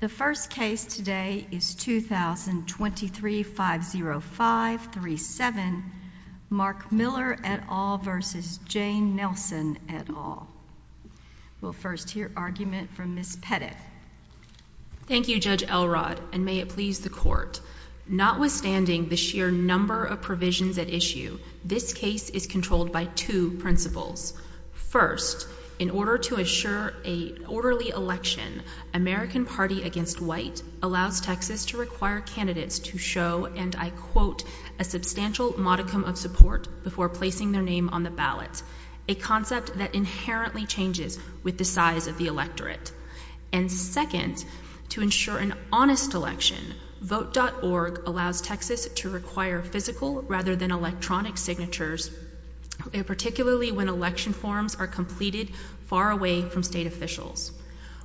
The first case today is 2023-505-37, Mark Miller et al. v. Jane Nelson et al. We'll first hear argument from Ms. Pettit. Thank you, Judge Elrod, and may it please the Court. Notwithstanding the sheer number of provisions at issue, this case is controlled by two principles. First, in order to assure an orderly election, American Party Against White allows Texas to require candidates to show, and I quote, a substantial modicum of support before placing their name on the ballot, a concept that inherently changes with the size of the electorate. And second, to ensure an honest election, Vote.org allows Texas to require physical rather than electronic signatures, particularly when election forms are completed far away from state officials.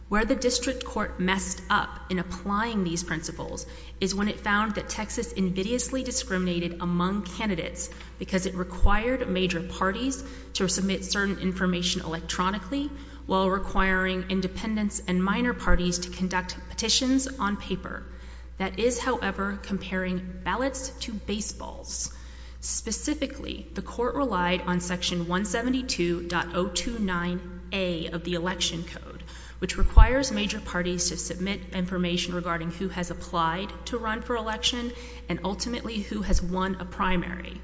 Where the District Court messed up in applying these principles is when it found that Texas invidiously discriminated among candidates because it required major parties to submit certain information electronically while requiring independents and minor parties to conduct petitions on paper. That is, however, comparing ballots to baseballs. Specifically, the Court relied on Section 172.029A of the Election Code, which requires major parties to submit information regarding who has applied to run for election and ultimately who has won a primary.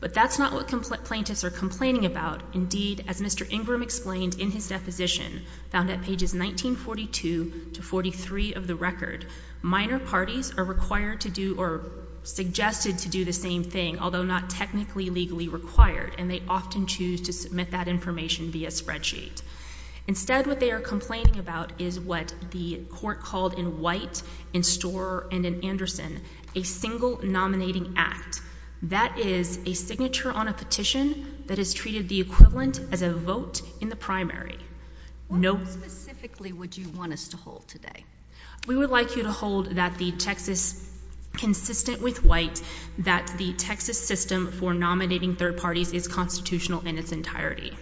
But that's not what plaintiffs are complaining about. Indeed, as Mr. Ingram explained in his deposition, found at pages 1942 to 43 of the record, minor parties are required to do or suggested to do the same thing, although not technically legally required, and they often choose to submit that information via spreadsheet. Instead, what they are complaining about is what the Court called in White, in Storer, and in Anderson, a single nominating act. That is a signature on a petition that is treated the equivalent as a vote in the primary. What vote specifically would you want us to hold today? We would like you to hold that the Texas, consistent with White, that the Texas system for nominating third parties is constitutional in its entirety.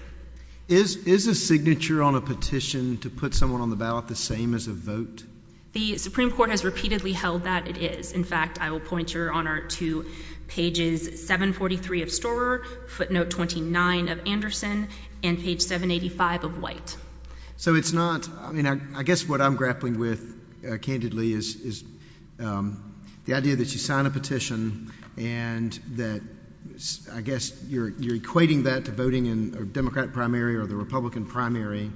Is a signature on a petition to put someone on the ballot the same as a vote? The Supreme Court has repeatedly held that it is. In fact, I will point your honor to pages 743 of Storer, footnote 29 of Anderson, and page 785 of White. So it's not, I mean, I guess what I'm grappling with candidly is the idea that you sign a petition and that I guess you're equating that to voting in a Democrat primary or the Republican primary.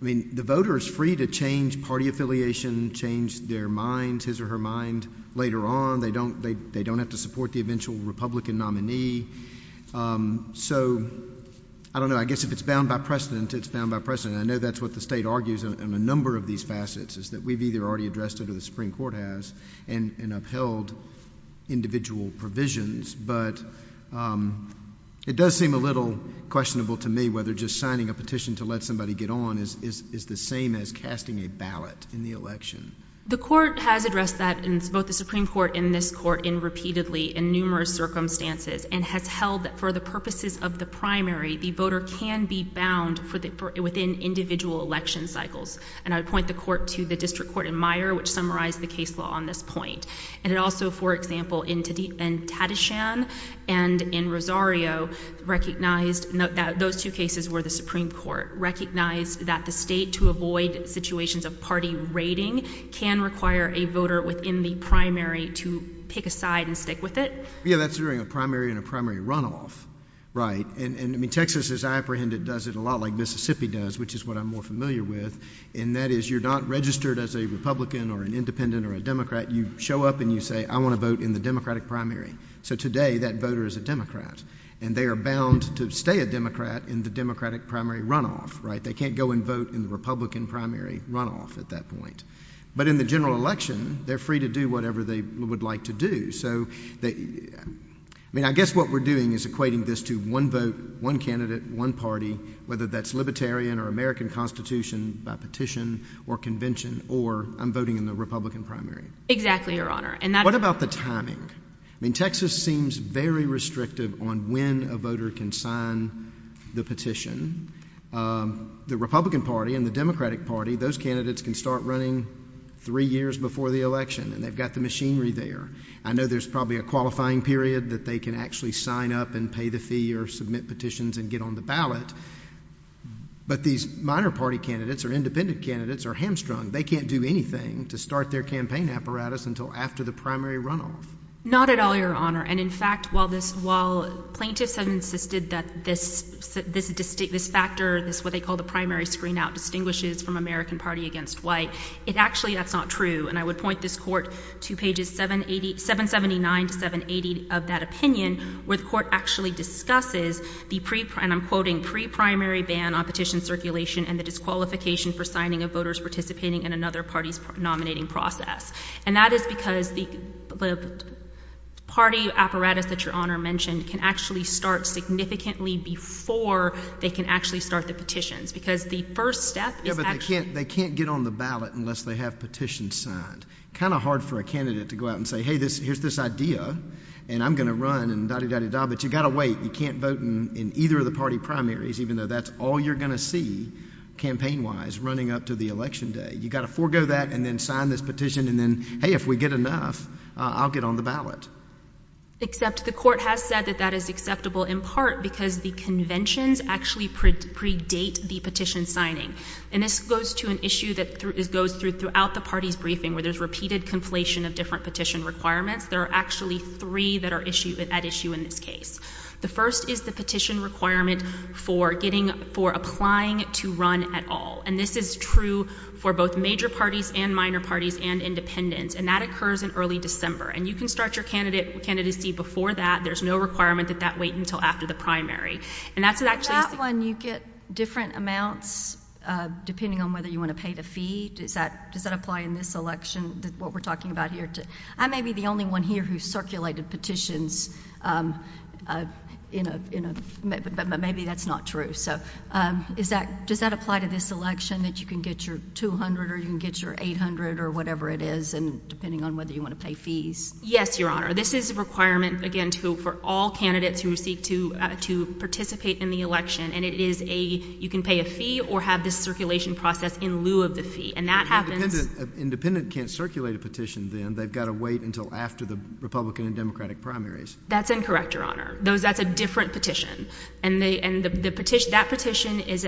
I mean, the voter is free to change party affiliation, change their mind, his or her mind, later on. They don't have to support the eventual Republican nominee. So, I don't know, I guess if it's bound by precedent, it's bound by precedent. I know that's what the state argues on a number of these facets, is that we've either already addressed it or the Supreme Court has and upheld individual provisions. But it does seem a little questionable to me whether just signing a petition to let somebody get on is the same as casting a ballot in the election. The court has addressed that in both the Supreme Court and this court in repeatedly in numerous circumstances and has held that for the purposes of the primary, the voter can be bound within individual election cycles. And I would point the court to the district court in Meyer, which summarized the case law on this point. And it also, for example, in Tadishan and in Rosario, recognized that those two cases were the Supreme Court, recognized that the state, to avoid situations of party raiding, can require a voter within the primary to pick aside and stick with it. Yeah, that's during a primary and a primary runoff, right? And, I mean, Texas, as I apprehend it, does it a lot like Mississippi does, which is what I'm more familiar with. And that is you're not registered as a Republican or an Independent or a Democrat. You show up and you say, I want to vote in the Democratic primary. So today that voter is a Democrat. And they are bound to stay a Democrat in the Democratic primary runoff, right? They can't go and vote in the Republican primary runoff at that point. But in the general election, they're free to do whatever they would like to do. So, I mean, I guess what we're doing is equating this to one vote, one candidate, one party, whether that's libertarian or American constitution by petition or convention or I'm voting in the Republican primary. Exactly, Your Honor. What about the timing? I mean, Texas seems very restrictive on when a voter can sign the petition. The Republican Party and the Democratic Party, those candidates can start running three years before the election. And they've got the machinery there. I know there's probably a qualifying period that they can actually sign up and pay the fee or submit petitions and get on the ballot. But these minor party candidates or Independent candidates are hamstrung. They can't do anything to start their campaign apparatus until after the primary runoff. Not at all, Your Honor. And, in fact, while this — while plaintiffs have insisted that this factor, this what they call the primary screenout, distinguishes from American Party against white, it actually — that's not true. And I would point this Court to pages 780 — 779 to 780 of that opinion, where the Court actually discusses the — for signing of voters participating in another party's nominating process. And that is because the party apparatus that Your Honor mentioned can actually start significantly before they can actually start the petitions. Because the first step is actually — Yeah, but they can't get on the ballot unless they have petitions signed. Kind of hard for a candidate to go out and say, hey, here's this idea, and I'm going to run and da-de-da-de-da. But you've got to wait. You can't vote in either of the party primaries, even though that's all you're going to see campaign-wise running up to the election day. You've got to forego that and then sign this petition and then, hey, if we get enough, I'll get on the ballot. Except the Court has said that that is acceptable in part because the conventions actually predate the petition signing. And this goes to an issue that goes through throughout the party's briefing, where there's repeated conflation of different petition requirements. There are actually three that are at issue in this case. The first is the petition requirement for applying to run at all. And this is true for both major parties and minor parties and independents. And that occurs in early December. And you can start your candidacy before that. There's no requirement that that wait until after the primary. In that one, you get different amounts depending on whether you want to pay the fee. Does that apply in this election, what we're talking about here? I may be the only one here who circulated petitions, but maybe that's not true. So does that apply to this election, that you can get your $200 or you can get your $800 or whatever it is, depending on whether you want to pay fees? Yes, Your Honor. This is a requirement, again, for all candidates who seek to participate in the election. And it is a you can pay a fee or have this circulation process in lieu of the fee. Independent can't circulate a petition, then. They've got to wait until after the Republican and Democratic primaries. That's incorrect, Your Honor. That's a different petition. And that petition is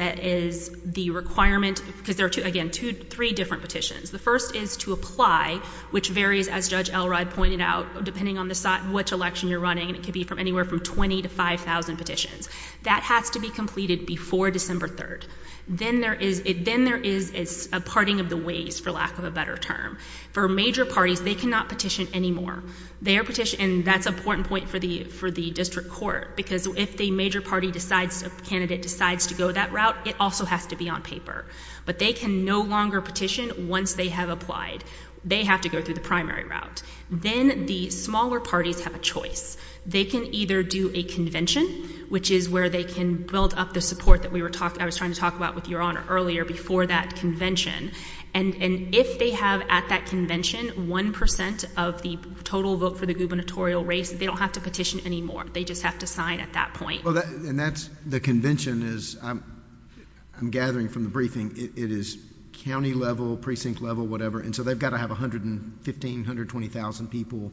the requirement because there are, again, three different petitions. The first is to apply, which varies, as Judge Elrod pointed out, depending on which election you're running. It could be anywhere from 20,000 to 5,000 petitions. That has to be completed before December 3rd. Then there is a parting of the ways, for lack of a better term. For major parties, they cannot petition anymore. And that's an important point for the district court because if the major party decides, a candidate decides to go that route, it also has to be on paper. But they can no longer petition once they have applied. They have to go through the primary route. Then the smaller parties have a choice. They can either do a convention, which is where they can build up the support that I was trying to talk about with Your Honor earlier before that convention. And if they have at that convention 1% of the total vote for the gubernatorial race, they don't have to petition anymore. They just have to sign at that point. And that's the convention is, I'm gathering from the briefing, it is county level, precinct level, whatever. And so they've got to have 115,000, 120,000 people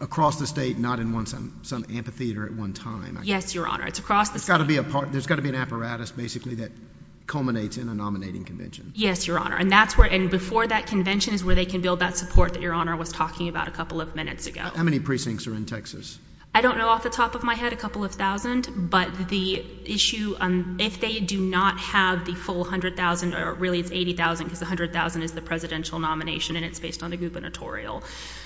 across the state, not in some amphitheater at one time. Yes, Your Honor. It's across the state. There's got to be an apparatus basically that culminates in a nominating convention. Yes, Your Honor. And before that convention is where they can build that support that Your Honor was talking about a couple of minutes ago. How many precincts are in Texas? I don't know off the top of my head, a couple of thousand. But the issue, if they do not have the full 100,000, or really it's 80,000 because 100,000 is the presidential nomination and it's based on the gubernatorial.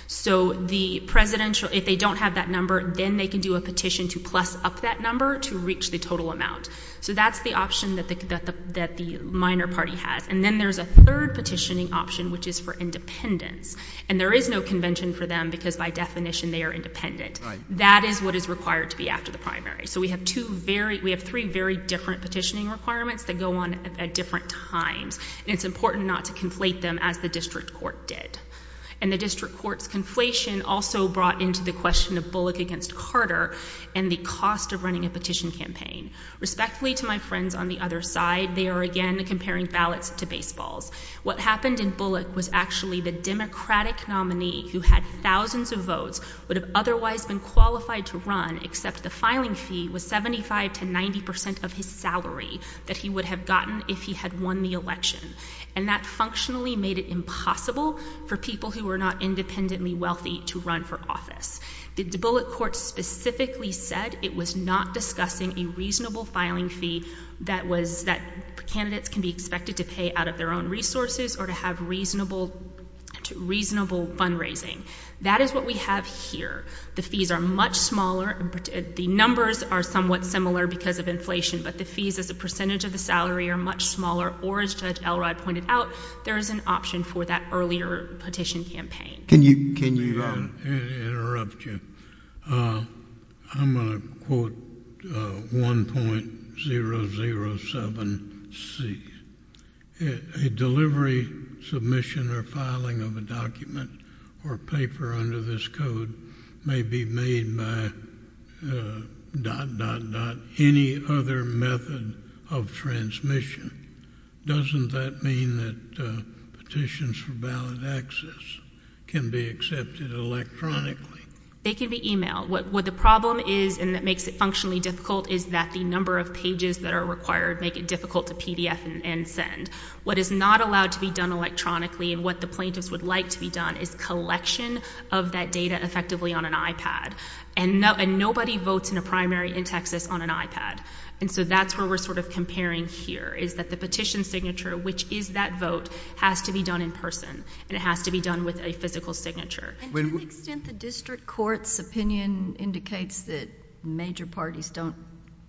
So the presidential, if they don't have that number, then they can do a petition to plus up that number to reach the total amount. So that's the option that the minor party has. And then there's a third petitioning option, which is for independents. And there is no convention for them because by definition they are independent. Right. That is what is required to be after the primary. So we have two very, we have three very different petitioning requirements that go on at different times. And it's important not to conflate them as the district court did. And the district court's conflation also brought into the question of Bullock against Carter and the cost of running a petition campaign. Respectfully to my friends on the other side, they are again comparing ballots to baseballs. What happened in Bullock was actually the Democratic nominee who had thousands of votes would have otherwise been qualified to run, except the filing fee was 75 to 90 percent of his salary that he would have gotten if he had won the election. And that functionally made it impossible for people who were not independently wealthy to run for office. The Bullock court specifically said it was not discussing a reasonable filing fee that was, that candidates can be expected to pay out of their own resources or to have reasonable, reasonable fundraising. That is what we have here. The fees are much smaller. The numbers are somewhat similar because of inflation, but the fees as a percentage of the salary are much smaller. Or as Judge Elrod pointed out, there is an option for that earlier petition campaign. Can you— Let me interrupt you. I'm going to quote 1.007C. A delivery, submission, or filing of a document or paper under this code may be made by dot, dot, dot, any other method of transmission. Doesn't that mean that petitions for ballot access can be accepted electronically? They can be emailed. What the problem is and that makes it functionally difficult is that the number of pages that are required make it difficult to PDF and send. What is not allowed to be done electronically and what the plaintiffs would like to be done is collection of that data effectively on an iPad. And nobody votes in a primary in Texas on an iPad. And so that's where we're sort of comparing here is that the petition signature, which is that vote, has to be done in person. And it has to be done with a physical signature. And to the extent the district court's opinion indicates that major parties don't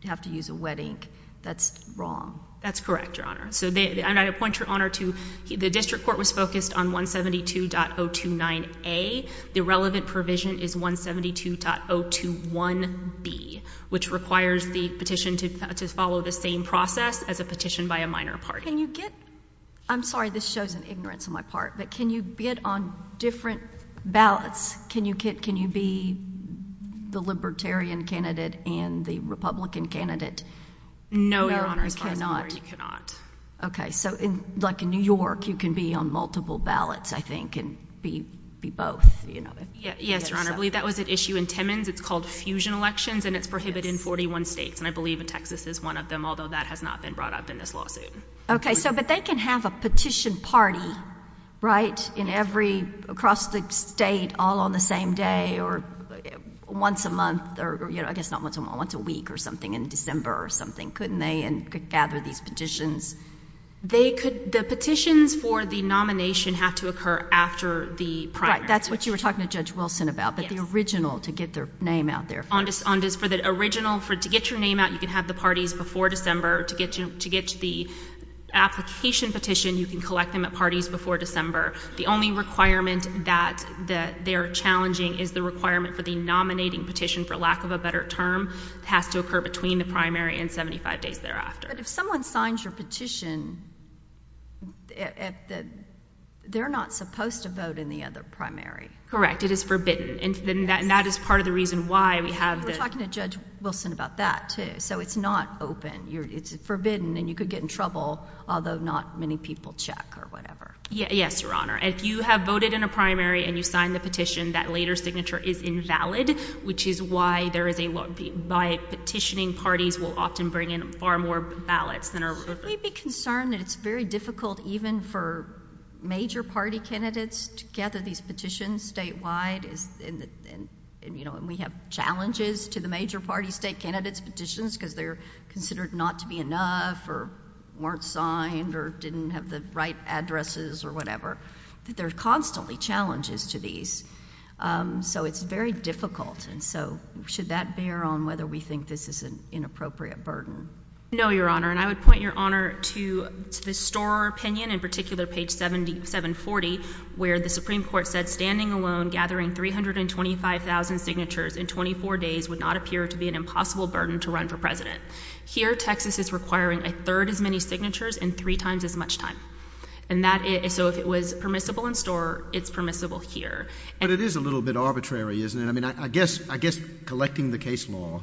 have to use a wet ink, that's wrong. That's correct, Your Honor. So I point Your Honor to the district court was focused on 172.029A. The relevant provision is 172.021B, which requires the petition to follow the same process as a petition by a minor party. Can you get, I'm sorry, this shows an ignorance on my part, but can you bid on different ballots? Can you be the libertarian candidate and the Republican candidate? No, Your Honor, as far as I'm aware, you cannot. Okay. So like in New York, you can be on multiple ballots, I think, and be both. Yes, Your Honor. I believe that was at issue in Timmins. It's called fusion elections, and it's prohibited in 41 states. And I believe in Texas is one of them, although that has not been brought up in this lawsuit. Okay. So but they can have a petition party, right, across the state all on the same day or once a month, or I guess not once a month, once a week or something in December or something, couldn't they? And could gather these petitions. They could, the petitions for the nomination have to occur after the primary. Right. That's what you were talking to Judge Wilson about. Yes. But the original, to get their name out there first. On this, for the original, to get your name out, you can have the parties before December. To get the application petition, you can collect them at parties before December. The only requirement that they're challenging is the requirement for the nominating petition, for lack of a better term, has to occur between the primary and 75 days thereafter. But if someone signs your petition, they're not supposed to vote in the other primary. Correct. It is forbidden. And that is part of the reason why we have the... You were talking to Judge Wilson about that, too. So it's not open. It's forbidden, and you could get in trouble, although not many people check or whatever. Yes, Your Honor. If you have voted in a primary and you sign the petition, that later signature is invalid, which is why there is a... By petitioning, parties will often bring in far more ballots than are... We'd be concerned that it's very difficult even for major party candidates to gather these petitions statewide. And we have challenges to the major party state candidates' petitions because they're considered not to be enough or weren't signed or didn't have the right addresses or whatever. There are constantly challenges to these. So it's very difficult. And so, should that bear on whether we think this is an inappropriate burden? No, Your Honor. And I would point, Your Honor, to the Storer opinion, in particular, page 740, where the Supreme Court said, Standing alone, gathering 325,000 signatures in 24 days would not appear to be an impossible burden to run for President. Here, Texas is requiring a third as many signatures in three times as much time. And that is... So if it was permissible in Storer, it's permissible here. But it is a little bit arbitrary, isn't it? I mean, I guess collecting the case law,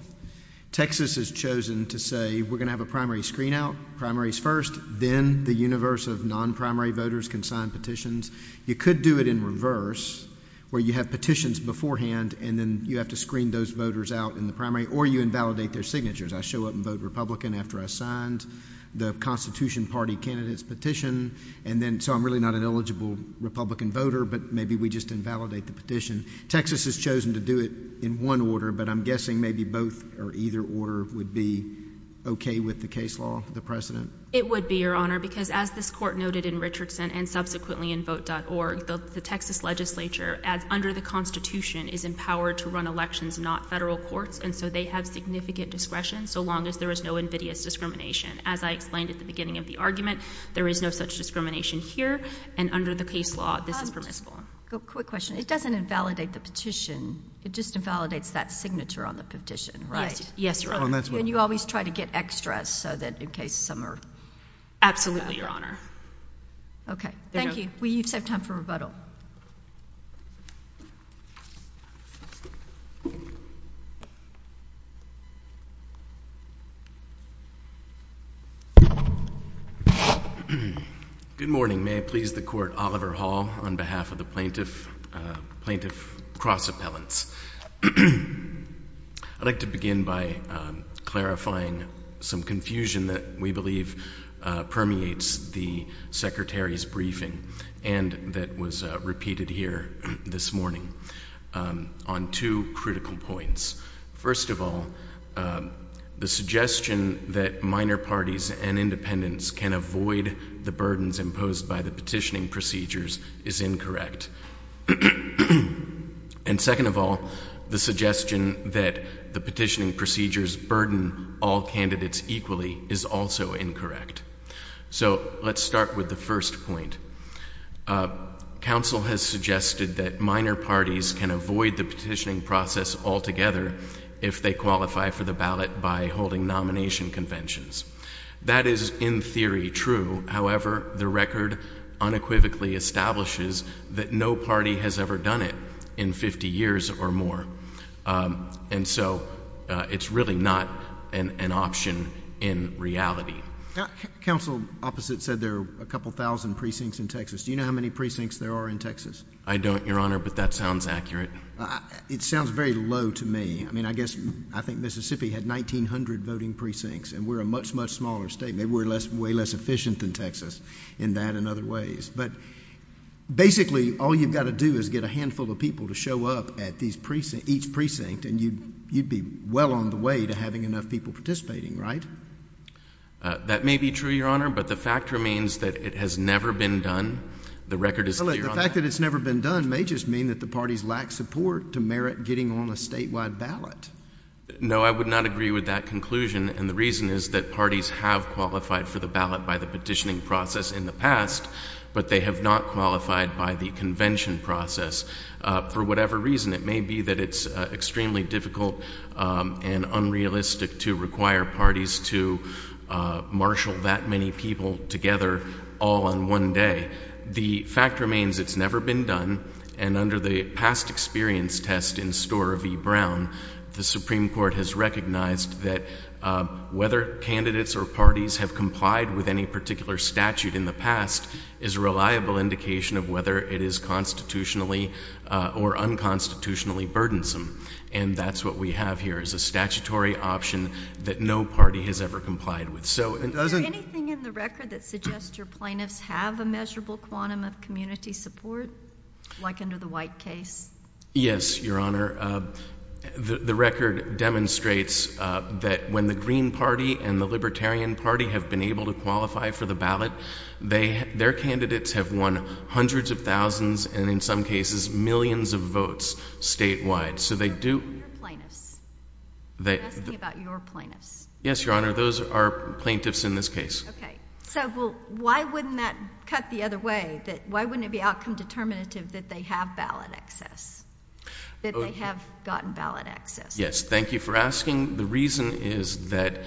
Texas has chosen to say we're going to have a primary screen out, primaries first. Then the universe of non-primary voters can sign petitions. You could do it in reverse where you have petitions beforehand and then you have to screen those voters out in the primary or you invalidate their signatures. I show up and vote Republican after I signed the Constitution Party candidate's petition. And then, so I'm really not an eligible Republican voter, but maybe we just invalidate the petition. Texas has chosen to do it in one order, but I'm guessing maybe both or either order would be okay with the case law, the precedent? It would be, Your Honor, because as this Court noted in Richardson and subsequently in Vote.org, the Texas legislature, under the Constitution, is empowered to run elections, not federal courts. And so they have significant discretion so long as there is no invidious discrimination. As I explained at the beginning of the argument, there is no such discrimination here. And under the case law, this is permissible. Quick question. It doesn't invalidate the petition. It just invalidates that signature on the petition, right? Yes, Your Honor. And you always try to get extras so that in case some are— Absolutely, Your Honor. Okay. Thank you. We save time for rebuttal. Good morning. May I please the Court, Oliver Hall, on behalf of the Plaintiff Cross Appellants. I'd like to begin by clarifying some confusion that we believe permeates the Secretary's briefing and that was repeated here this morning on two critical points. First of all, the suggestion that minor parties and independents can avoid the burdens imposed by the petitioning procedures is incorrect. And second of all, the suggestion that the petitioning procedures burden all candidates equally is also incorrect. So let's start with the first point. Counsel has suggested that minor parties can avoid the petitioning process altogether if they qualify for the ballot by holding nomination conventions. That is, in theory, true. However, the record unequivocally establishes that no party has ever done it in 50 years or more. And so it's really not an option in reality. Counsel opposite said there are a couple thousand precincts in Texas. Do you know how many precincts there are in Texas? I don't, Your Honor, but that sounds accurate. It sounds very low to me. I mean, I guess I think Mississippi had 1,900 voting precincts, and we're a much, much smaller state. I mean, they were way less efficient than Texas in that and other ways. But basically all you've got to do is get a handful of people to show up at each precinct, and you'd be well on the way to having enough people participating, right? That may be true, Your Honor, but the fact remains that it has never been done. The record is clear on that. The fact that it's never been done may just mean that the parties lack support to merit getting on a statewide ballot. No, I would not agree with that conclusion, and the reason is that parties have qualified for the ballot by the petitioning process in the past, but they have not qualified by the convention process. For whatever reason, it may be that it's extremely difficult and unrealistic to require parties to marshal that many people together all on one day. The fact remains it's never been done, and under the past experience test in Storer v. Brown, the Supreme Court has recognized that whether candidates or parties have complied with any particular statute in the past is a reliable indication of whether it is constitutionally or unconstitutionally burdensome, and that's what we have here is a statutory option that no party has ever complied with. Is there anything in the record that suggests your plaintiffs have a measurable quantum of community support, like under the White case? Yes, Your Honor. The record demonstrates that when the Green Party and the Libertarian Party have been able to qualify for the ballot, their candidates have won hundreds of thousands and, in some cases, millions of votes statewide. I'm asking about your plaintiffs. Yes, Your Honor. Those are plaintiffs in this case. Okay. So why wouldn't that cut the other way? Why wouldn't it be outcome determinative that they have ballot access, that they have gotten ballot access? Yes. Thank you for asking. The reason is that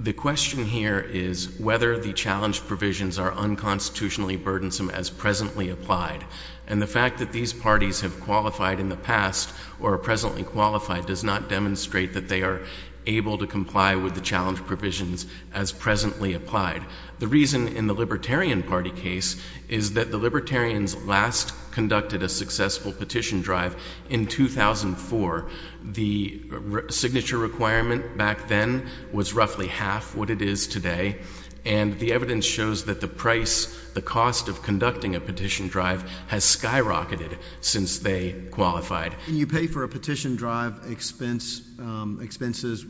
the question here is whether the challenge provisions are unconstitutionally burdensome as presently applied, and the fact that these parties have qualified in the past or are presently qualified does not demonstrate that they are able to comply with the challenge provisions as presently applied. The reason in the Libertarian Party case is that the Libertarians last conducted a successful petition drive in 2004. The signature requirement back then was roughly half what it is today, and the evidence shows that the price, the cost of conducting a petition drive has skyrocketed since they qualified. Can you pay for a petition drive expenses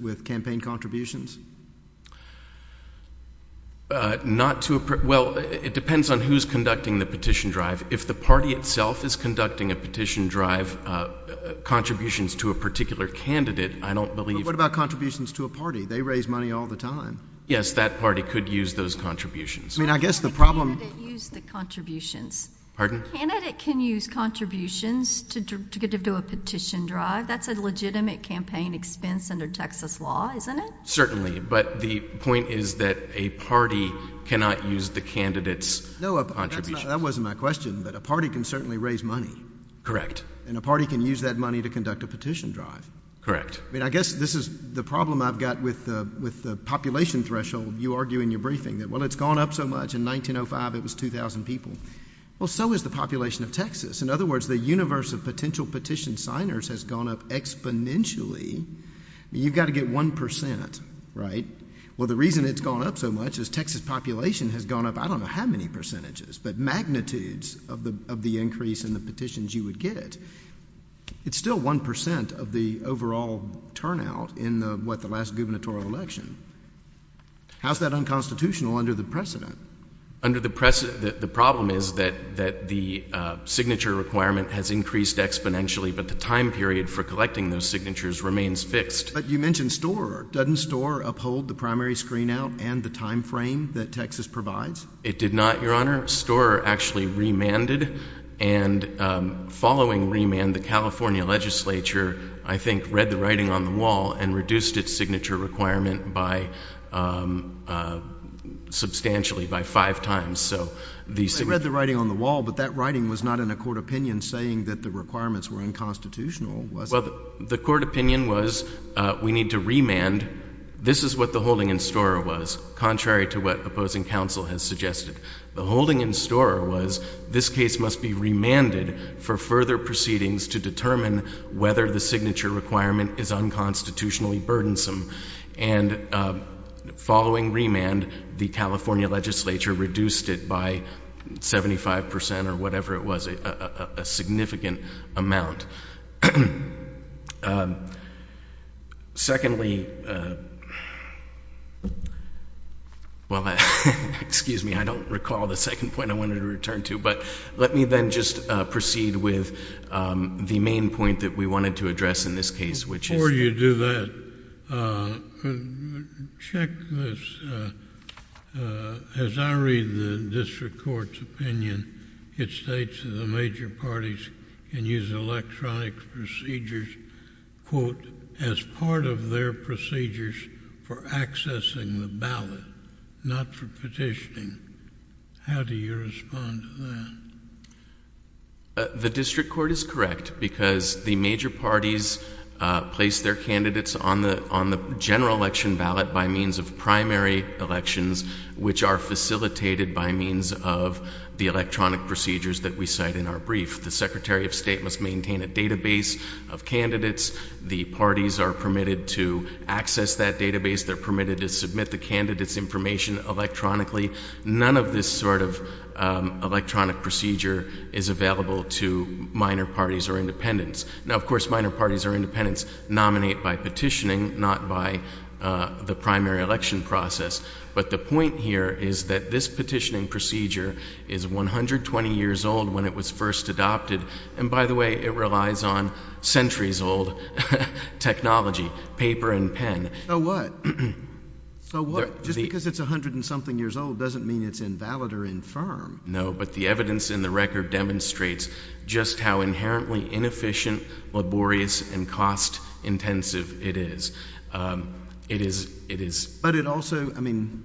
with campaign contributions? Not to a—well, it depends on who's conducting the petition drive. If the party itself is conducting a petition drive, contributions to a particular candidate, I don't believe— But what about contributions to a party? They raise money all the time. Yes, that party could use those contributions. I mean, I guess the problem— The candidate used the contributions. Pardon? The candidate can use contributions to do a petition drive. That's a legitimate campaign expense under Texas law, isn't it? Certainly, but the point is that a party cannot use the candidate's contributions. No, that wasn't my question, but a party can certainly raise money. Correct. And a party can use that money to conduct a petition drive. Correct. I mean, I guess this is the problem I've got with the population threshold. You argue in your briefing that, well, it's gone up so much. In 1905, it was 2,000 people. Well, so is the population of Texas. In other words, the universe of potential petition signers has gone up exponentially. I mean, you've got to get 1 percent, right? Well, the reason it's gone up so much is Texas population has gone up I don't know how many percentages, but magnitudes of the increase in the petitions you would get. It's still 1 percent of the overall turnout in the, what, the last gubernatorial election. How's that unconstitutional under the precedent? Under the precedent, the problem is that the signature requirement has increased exponentially, but the time period for collecting those signatures remains fixed. But you mentioned Storer. Doesn't Storer uphold the primary screen out and the time frame that Texas provides? It did not, Your Honor. Storer actually remanded, and following remand, the California legislature, I think, read the writing on the wall and reduced its signature requirement substantially by five times. They read the writing on the wall, but that writing was not in a court opinion saying that the requirements were unconstitutional, was it? Well, the court opinion was we need to remand. This is what the holding in Storer was, contrary to what opposing counsel has suggested. The holding in Storer was this case must be remanded for further proceedings to determine whether the signature requirement is unconstitutionally burdensome. And following remand, the California legislature reduced it by 75 percent or whatever it was, a significant amount. Secondly, well, excuse me, I don't recall the second point I wanted to return to, but let me then just proceed with the main point that we wanted to address in this case, which is... Before you do that, check this. As I read the district court's opinion, it states that the major parties can use electronic procedures, quote, as part of their procedures for accessing the ballot, not for petitioning. How do you respond to that? The district court is correct because the major parties place their candidates on the general election ballot by means of primary elections, which are facilitated by means of the electronic procedures that we cite in our brief. The Secretary of State must maintain a database of candidates. The parties are permitted to access that database. They're permitted to submit the candidate's information electronically. None of this sort of electronic procedure is available to minor parties or independents. Now, of course, minor parties or independents nominate by petitioning, not by the primary election process. But the point here is that this petitioning procedure is 120 years old when it was first adopted. And by the way, it relies on centuries-old technology, paper and pen. So what? So what? Just because it's 100-and-something years old doesn't mean it's invalid or infirm. No, but the evidence in the record demonstrates just how inherently inefficient, laborious and cost-intensive it is. It is, it is. But it also, I mean,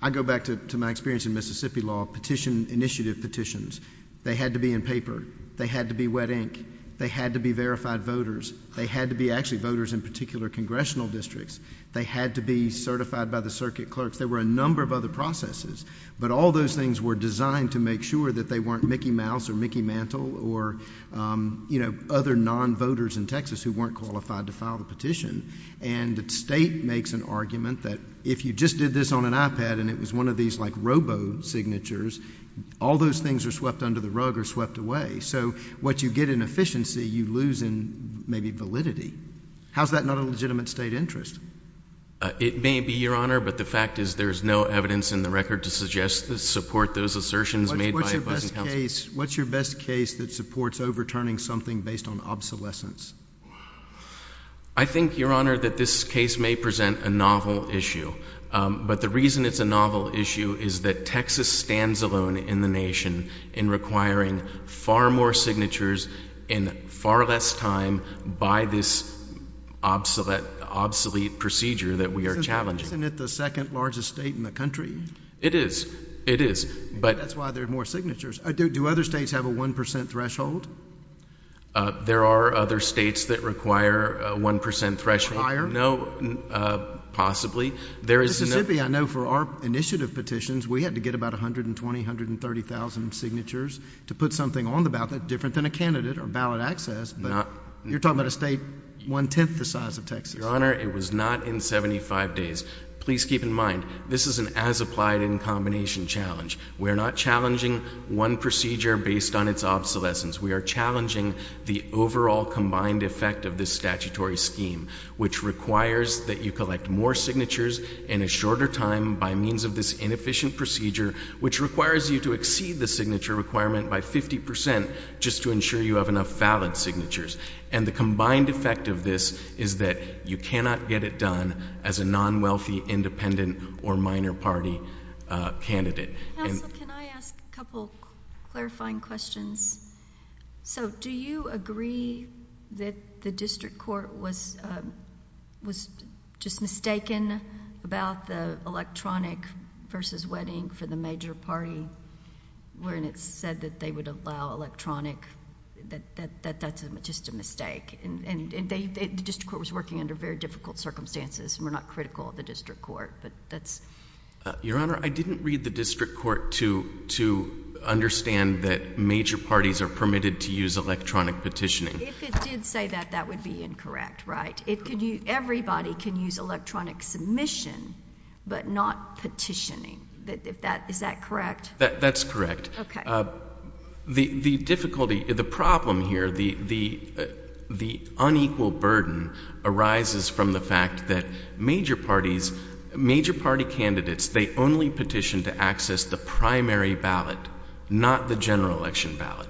I go back to my experience in Mississippi law, petition, initiative petitions. They had to be in paper. They had to be wet ink. They had to be verified voters. They had to be actually voters in particular congressional districts. They had to be certified by the circuit clerks. There were a number of other processes. But all those things were designed to make sure that they weren't Mickey Mouse or Mickey Mantle or, you know, other non-voters in Texas who weren't qualified to file the petition. And the state makes an argument that if you just did this on an iPad and it was one of these, like, robo signatures, all those things are swept under the rug or swept away. So what you get in efficiency, you lose in maybe validity. How is that not a legitimate state interest? It may be, Your Honor. But the fact is there is no evidence in the record to suggest that support those assertions made by advising counsel. What's your best case, what's your best case that supports overturning something based on obsolescence? I think, Your Honor, that this case may present a novel issue. But the reason it's a novel issue is that Texas stands alone in the nation in requiring far more signatures in far less time by this obsolete procedure that we are challenging. Isn't it the second largest state in the country? It is. It is. That's why there are more signatures. Do other states have a 1 percent threshold? There are other states that require a 1 percent threshold. Require? No, possibly. Mississippi, I know, for our initiative petitions, we had to get about 120,000, 130,000 signatures to put something on the ballot that's different than a candidate or ballot access. But you're talking about a state one-tenth the size of Texas. Your Honor, it was not in 75 days. Please keep in mind, this is an as-applied-in combination challenge. We are not challenging one procedure based on its obsolescence. We are challenging the overall combined effect of this statutory scheme, which requires that you collect more signatures in a shorter time by means of this inefficient procedure, which requires you to exceed the signature requirement by 50 percent just to ensure you have enough valid signatures. And the combined effect of this is that you cannot get it done as a non-wealthy, independent, or minor party candidate. Counsel, can I ask a couple of clarifying questions? So do you agree that the district court was just mistaken about the electronic versus wedding for the major party when it said that they would allow electronic, that that's just a mistake? And the district court was working under very difficult circumstances and we're not critical of the district court, but that's... Your Honor, I didn't read the district court to understand that major parties are permitted to use electronic petitioning. If it did say that, that would be incorrect, right? Everybody can use electronic submission but not petitioning. Is that correct? That's correct. Okay. The difficulty, the problem here, the unequal burden arises from the fact that major parties, major party candidates, they only petition to access the primary ballot, not the general election ballot.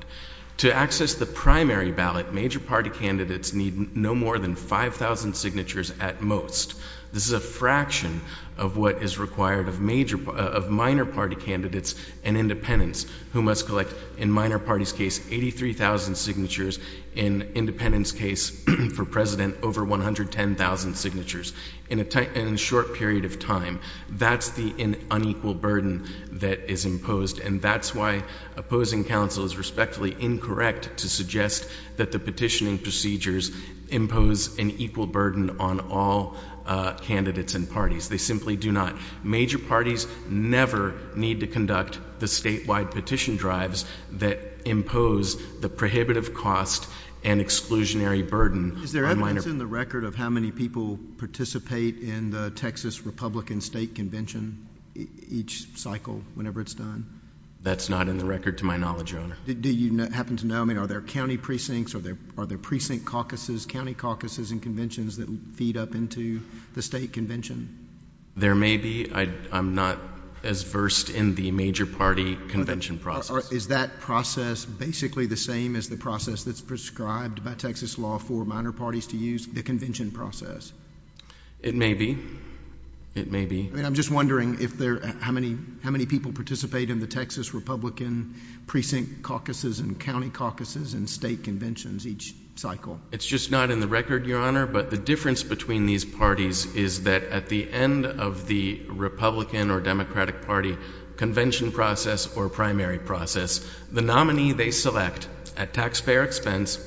To access the primary ballot, major party candidates need no more than 5,000 signatures at most. This is a fraction of what is required of minor party candidates and independents who must collect, in minor parties' case, 83,000 signatures. In independents' case, for president, over 110,000 signatures. In a short period of time, that's the unequal burden that is imposed and that's why opposing counsel is respectfully incorrect to suggest that the petitioning procedures impose an equal burden on all candidates and parties. They simply do not. Major parties never need to conduct the statewide petition drives that impose the prohibitive cost and exclusionary burden on minor parties. That's in the record of how many people participate in the Texas Republican State Convention each cycle, whenever it's done? That's not in the record to my knowledge, Your Honor. Do you happen to know? I mean, are there county precincts, are there precinct caucuses, county caucuses and conventions that feed up into the state convention? There may be. I'm not as versed in the major party convention process. Is that process basically the same as the process that's prescribed by Texas law for minor parties to use, the convention process? It may be. I'm just wondering how many people participate in the Texas Republican precinct caucuses and county caucuses and state conventions each cycle. It's just not in the record, Your Honor, but the difference between these parties is that at the end of the Republican or Democratic Party convention process or primary process, the nominee they select at taxpayer expense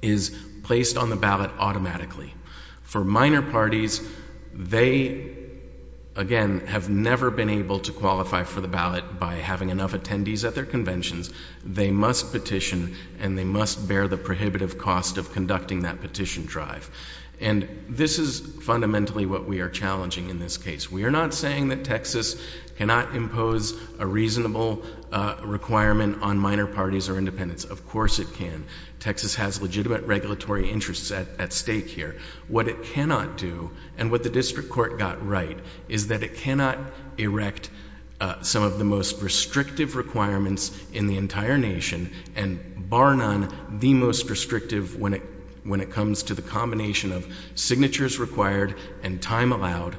is placed on the ballot automatically. For minor parties, they, again, have never been able to qualify for the ballot by having enough attendees at their conventions. They must petition, and they must bear the prohibitive cost of conducting that petition drive. And this is fundamentally what we are challenging in this case. We are not saying that Texas cannot impose a reasonable requirement on minor parties or independents. Of course it can. Texas has legitimate regulatory interests at stake here. What it cannot do, and what the district court got right, is that it cannot erect some of the most restrictive requirements in the entire nation and bar none the most restrictive when it comes to the combination of signatures required and time allowed,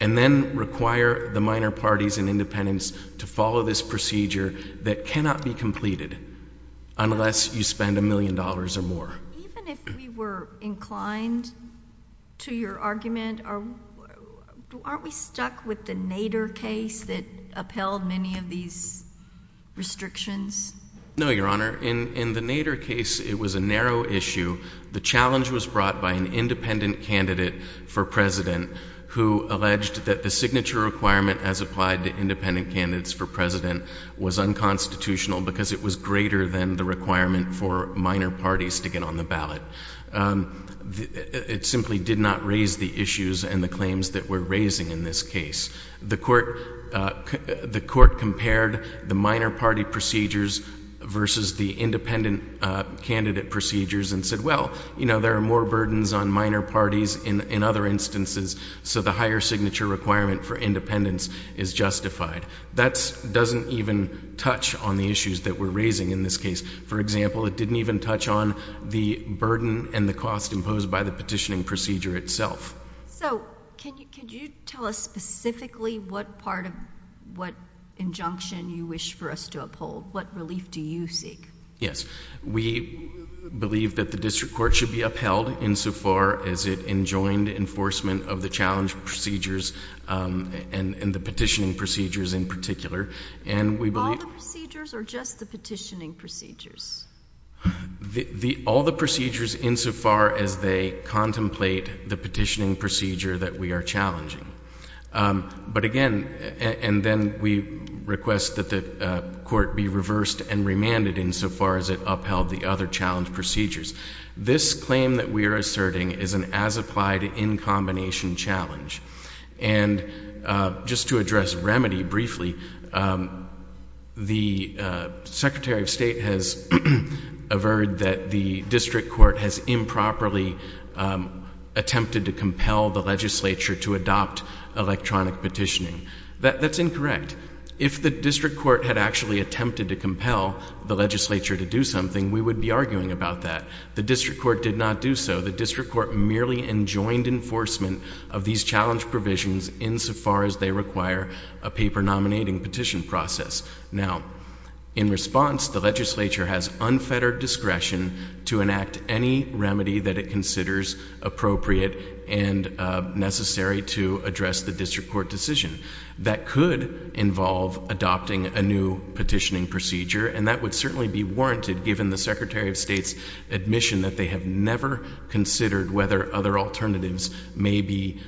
and then require the minor parties and independents to follow this procedure that cannot be completed unless you spend a million dollars or more. Even if we were inclined to your argument, aren't we stuck with the Nader case that upheld many of these restrictions? No, Your Honor. In the Nader case, it was a narrow issue. The challenge was brought by an independent candidate for president who alleged that the signature requirement as applied to independent candidates for president was unconstitutional because it was greater than the requirement for minor parties to get on the ballot. It simply did not raise the issues and the claims that we're raising in this case. The court compared the minor party procedures versus the independent candidate procedures and said, well, you know, there are more burdens on minor parties in other instances, so the higher signature requirement for independents is justified. That doesn't even touch on the issues that we're raising in this case. For example, it didn't even touch on the burden and the cost imposed by the petitioning procedure itself. So can you tell us specifically what part of what injunction you wish for us to uphold? What relief do you seek? Yes. We believe that the district court should be upheld insofar as it enjoined enforcement of the challenge procedures and the petitioning procedures in particular. All the procedures or just the petitioning procedures? All the procedures insofar as they contemplate the petitioning procedure that we are challenging. But again, and then we request that the court be reversed and remanded insofar as it upheld the other challenge procedures. This claim that we are asserting is an as-applied, in-combination challenge. And just to address remedy briefly, the Secretary of State has averred that the district court has improperly attempted to compel the legislature to adopt electronic petitioning. That's incorrect. If the district court had actually attempted to compel the legislature to do something, we would be arguing about that. The district court did not do so. The district court merely enjoined enforcement of these challenge provisions insofar as they require a paper nominating petition process. Now, in response, the legislature has unfettered discretion to enact any remedy that it considers appropriate and necessary to address the district court decision. That could involve adopting a new petitioning procedure, and that would certainly be warranted given the Secretary of State's admission that they have never considered whether other alternatives may be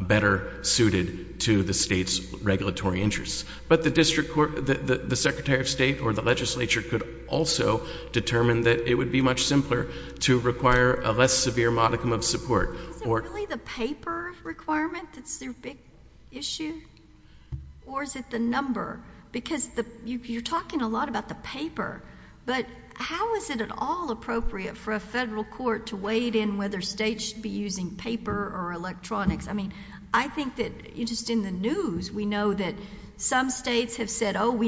better suited to the state's regulatory interests. But the district court, the Secretary of State, or the legislature could also determine that it would be much simpler to require a less severe modicum of support. Is it really the paper requirement that's their big issue, or is it the number? Because you're talking a lot about the paper, but how is it at all appropriate for a federal court to weigh in whether states should be using paper or electronics? I mean, I think that just in the news we know that some states have said, oh,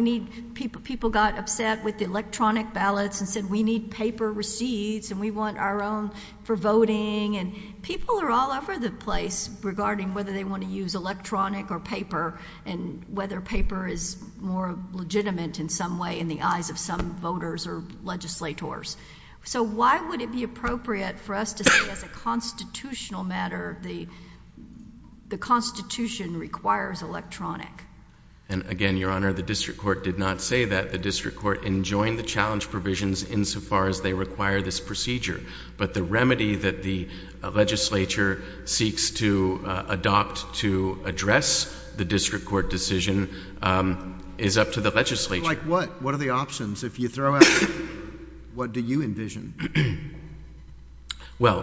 people got upset with the electronic ballots and said we need paper receipts and we want our own for voting. And people are all over the place regarding whether they want to use electronic or paper and whether paper is more legitimate in some way in the eyes of some voters or legislators. So why would it be appropriate for us to say as a constitutional matter the Constitution requires electronic? And again, Your Honor, the district court did not say that. The district court enjoined the challenge provisions insofar as they require this procedure. But the remedy that the legislature seeks to adopt to address the district court decision is up to the legislature. Like what? What are the options? If you throw out paper, what do you envision? Well,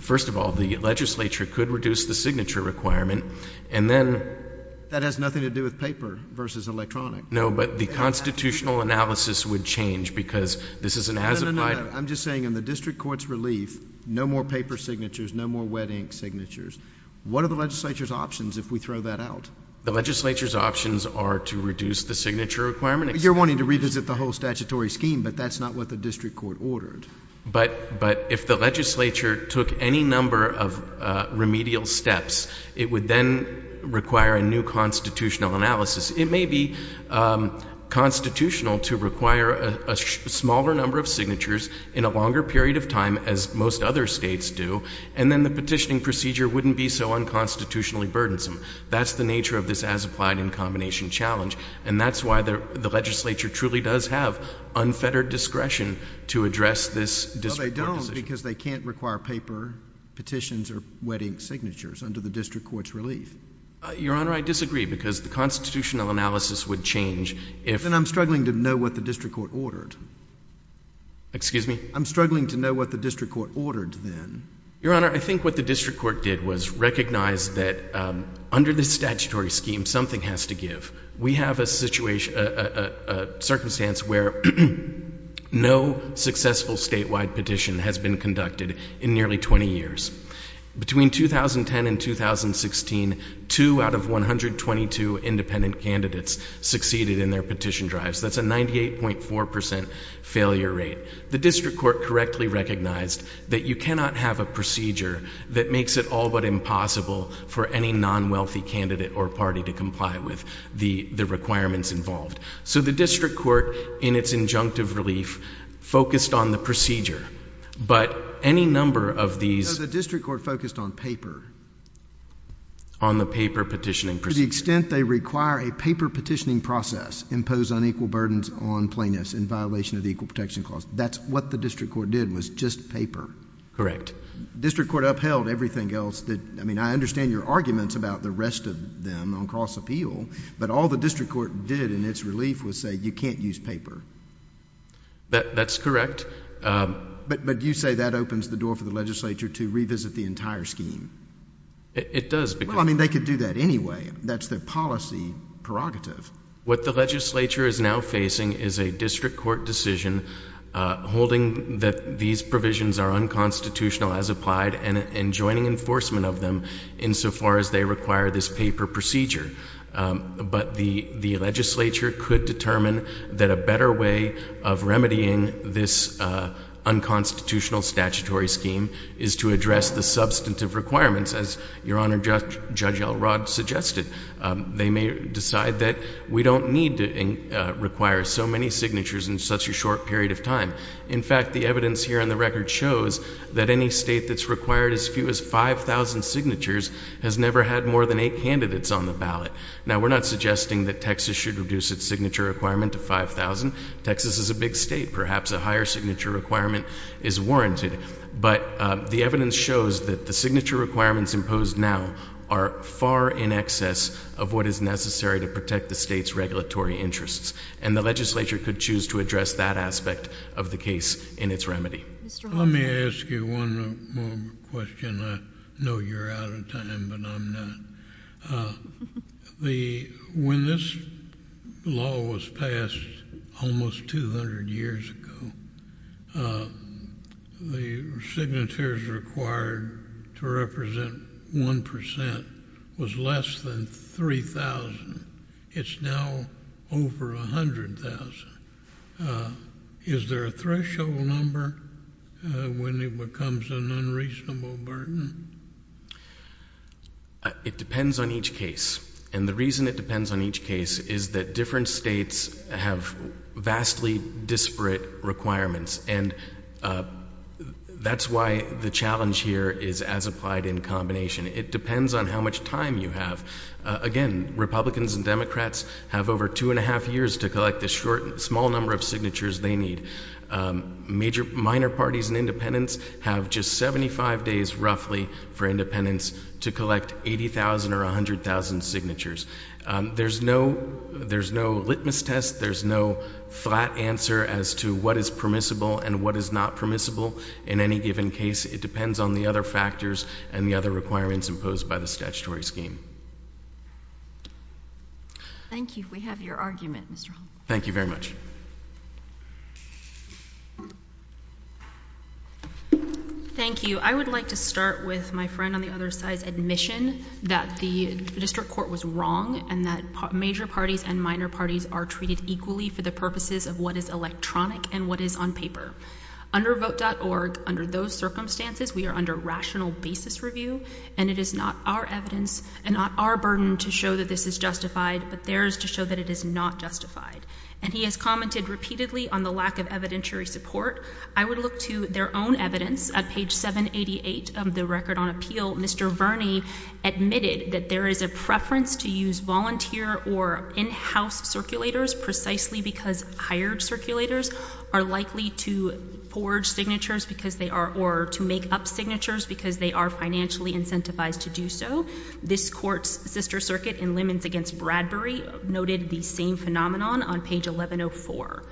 first of all, the legislature could reduce the signature requirement, and then — That has nothing to do with paper versus electronic. No, but the constitutional analysis would change because this is an as-applied — No, no, no. I'm just saying in the district court's relief, no more paper signatures, no more wet ink signatures. What are the legislature's options if we throw that out? The legislature's options are to reduce the signature requirement. You're wanting to revisit the whole statutory scheme, but that's not what the district court ordered. But if the legislature took any number of remedial steps, it would then require a new constitutional analysis. It may be constitutional to require a smaller number of signatures in a longer period of time as most other states do, and then the petitioning procedure wouldn't be so unconstitutionally burdensome. That's the nature of this as-applied in combination challenge, and that's why the legislature truly does have unfettered discretion to address this district court decision. Well, they don't because they can't require paper petitions or wet ink signatures under the district court's relief. Your Honor, I disagree because the constitutional analysis would change if— Then I'm struggling to know what the district court ordered. Excuse me? I'm struggling to know what the district court ordered then. Your Honor, I think what the district court did was recognize that under this statutory scheme, something has to give. We have a circumstance where no successful statewide petition has been conducted in nearly 20 years. Between 2010 and 2016, two out of 122 independent candidates succeeded in their petition drives. That's a 98.4 percent failure rate. The district court correctly recognized that you cannot have a procedure that makes it all but impossible for any non-wealthy candidate or party to comply with the requirements involved. So the district court, in its injunctive relief, focused on the procedure, but any number of these— But the district court focused on paper. On the paper petitioning procedure. To the extent they require a paper petitioning process impose unequal burdens on plaintiffs in violation of the Equal Protection Clause. That's what the district court did was just paper. Correct. District court upheld everything else that—I mean, I understand your arguments about the rest of them on cross-appeal, but all the district court did in its relief was say you can't use paper. That's correct. But you say that opens the door for the legislature to revisit the entire scheme. It does. Well, I mean, they could do that anyway. That's their policy prerogative. What the legislature is now facing is a district court decision holding that these provisions are unconstitutional as applied and joining enforcement of them insofar as they require this paper procedure. But the legislature could determine that a better way of remedying this unconstitutional statutory scheme is to address the substantive requirements as Your Honor, Judge Elrod suggested. They may decide that we don't need to require so many signatures in such a short period of time. In fact, the evidence here on the record shows that any state that's required as few as 5,000 signatures has never had more than eight candidates on the ballot. Now, we're not suggesting that Texas should reduce its signature requirement to 5,000. Texas is a big state. Perhaps a higher signature requirement is warranted. But the evidence shows that the signature requirements imposed now are far in excess of what is necessary to protect the state's regulatory interests. And the legislature could choose to address that aspect of the case in its remedy. Let me ask you one more question. I know you're out of time, but I'm not. When this law was passed almost 200 years ago, the signatures required to represent 1% was less than 3,000. It's now over 100,000. Is there a threshold number when it becomes an unreasonable burden? It depends on each case. And the reason it depends on each case is that different states have vastly disparate requirements. And that's why the challenge here is as applied in combination. It depends on how much time you have. Again, Republicans and Democrats have over two and a half years to collect the small number of signatures they need. Minor parties and independents have just 75 days roughly for independents to collect 80,000 or 100,000 signatures. There's no litmus test. There's no flat answer as to what is permissible and what is not permissible in any given case. It depends on the other factors and the other requirements imposed by the statutory scheme. Thank you. We have your argument, Mr. Hall. Thank you very much. Thank you. I would like to start with my friend on the other side's admission that the district court was wrong and that major parties and minor parties are treated equally for the purposes of what is electronic and what is on paper. Under vote.org, under those circumstances, we are under rational basis review, and it is not our evidence and not our burden to show that this is justified, but theirs to show that it is not justified. And he has commented repeatedly on the lack of evidentiary support. I would look to their own evidence. At page 788 of the record on appeal, Mr. Verney admitted that there is a preference to use volunteer or in-house circulators precisely because hired circulators are likely to forge signatures because they are, or to make up signatures because they are financially incentivized to do so. This court's sister circuit in Lemons v. Bradbury noted the same phenomenon on page 1104.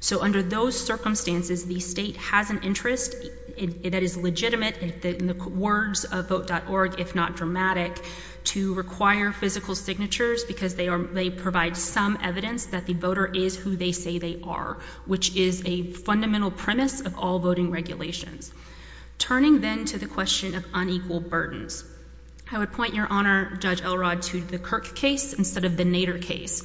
So under those circumstances, the state has an interest that is legitimate in the words of vote.org, if not dramatic, to require physical signatures because they provide some evidence that the voter is who they say they are, which is a fundamental premise of all voting regulations. Turning then to the question of unequal burdens. I would point, Your Honor, Judge Elrod, to the Kirk case instead of the Nader case,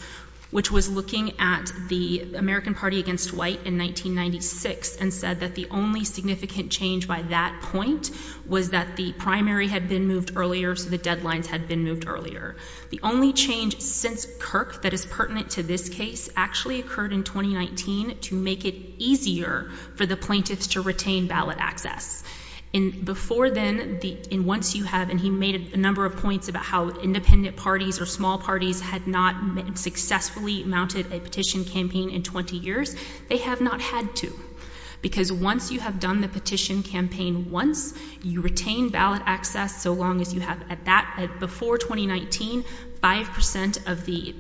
which was looking at the American Party against White in 1996 and said that the only significant change by that point was that the primary had been moved earlier, so the deadlines had been moved earlier. The only change since Kirk that is pertinent to this case actually occurred in 2019 to make it easier for the plaintiffs to retain ballot access. Before then, in Once You Have, and he made a number of points about how independent parties or small parties had not successfully mounted a petition campaign in 20 years. They have not had to. Because Once You Have done the petition campaign once, you retain ballot access so long as you have, before 2019, 5% of the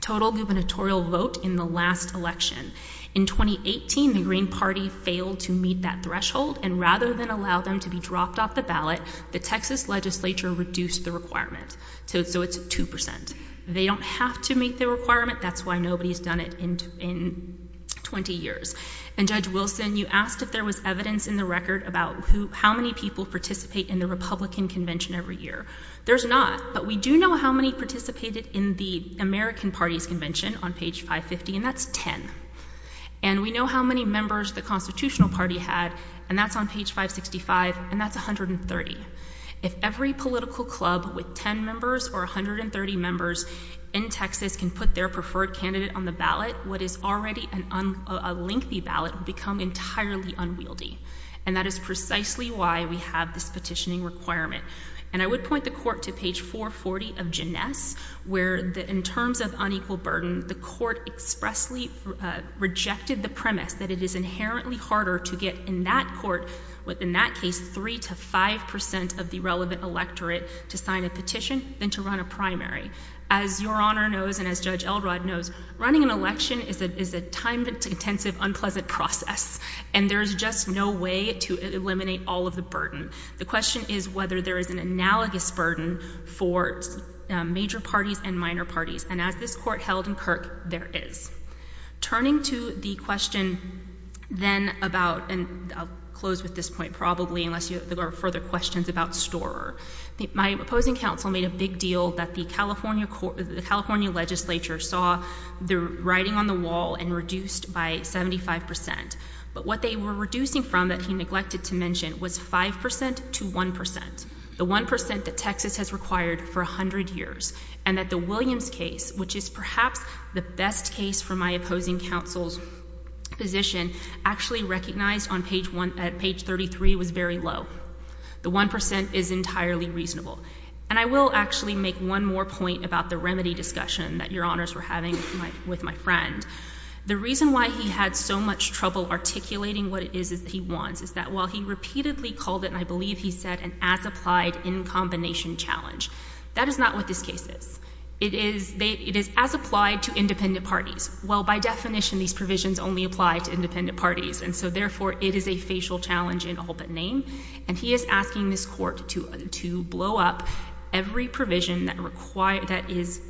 total gubernatorial vote in the last election. In 2018, the Green Party failed to meet that threshold, and rather than allow them to be dropped off the ballot, the Texas legislature reduced the requirement. So it's 2%. They don't have to meet the requirement. That's why nobody has done it in 20 years. And Judge Wilson, you asked if there was evidence in the record about how many people participate in the Republican Convention every year. There's not, but we do know how many participated in the American Party's convention on page 550, and that's 10. And we know how many members the Constitutional Party had, and that's on page 565, and that's 130. If every political club with 10 members or 130 members in Texas can put their preferred candidate on the ballot, what is already a lengthy ballot would become entirely unwieldy. And that is precisely why we have this petitioning requirement. And I would point the court to page 440 of Jeunesse, where in terms of unequal burden, the court expressly rejected the premise that it is inherently harder to get in that court, within that case, 3 to 5% of the relevant electorate to sign a petition than to run a primary. As Your Honor knows and as Judge Elrod knows, running an election is a time-intensive, unpleasant process, and there is just no way to eliminate all of the burden. The question is whether there is an analogous burden for major parties and minor parties, and as this court held in Kirk, there is. Turning to the question then about, and I'll close with this point probably unless there are further questions about Storer, my opposing counsel made a big deal that the California legislature saw the writing on the wall and reduced by 75%. But what they were reducing from that he neglected to mention was 5% to 1%, the 1% that Texas has required for 100 years, and that the Williams case, which is perhaps the best case for my opposing counsel's position, actually recognized on page 33 was very low. The 1% is entirely reasonable. And I will actually make one more point about the remedy discussion that Your Honors were having with my friend. The reason why he had so much trouble articulating what it is that he wants is that while he repeatedly called it, and I believe he said an as-applied, in-combination challenge, that is not what this case is. It is as applied to independent parties. Well, by definition, these provisions only apply to independent parties, and so therefore it is a facial challenge in all but name. And he is asking this court to blow up every provision that is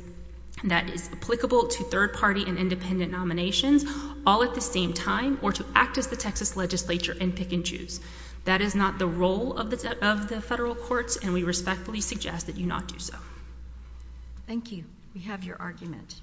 applicable to third-party and independent nominations all at the same time or to act as the Texas legislature and pick and choose. That is not the role of the federal courts, and we respectfully suggest that you not do so. Thank you. We have your argument.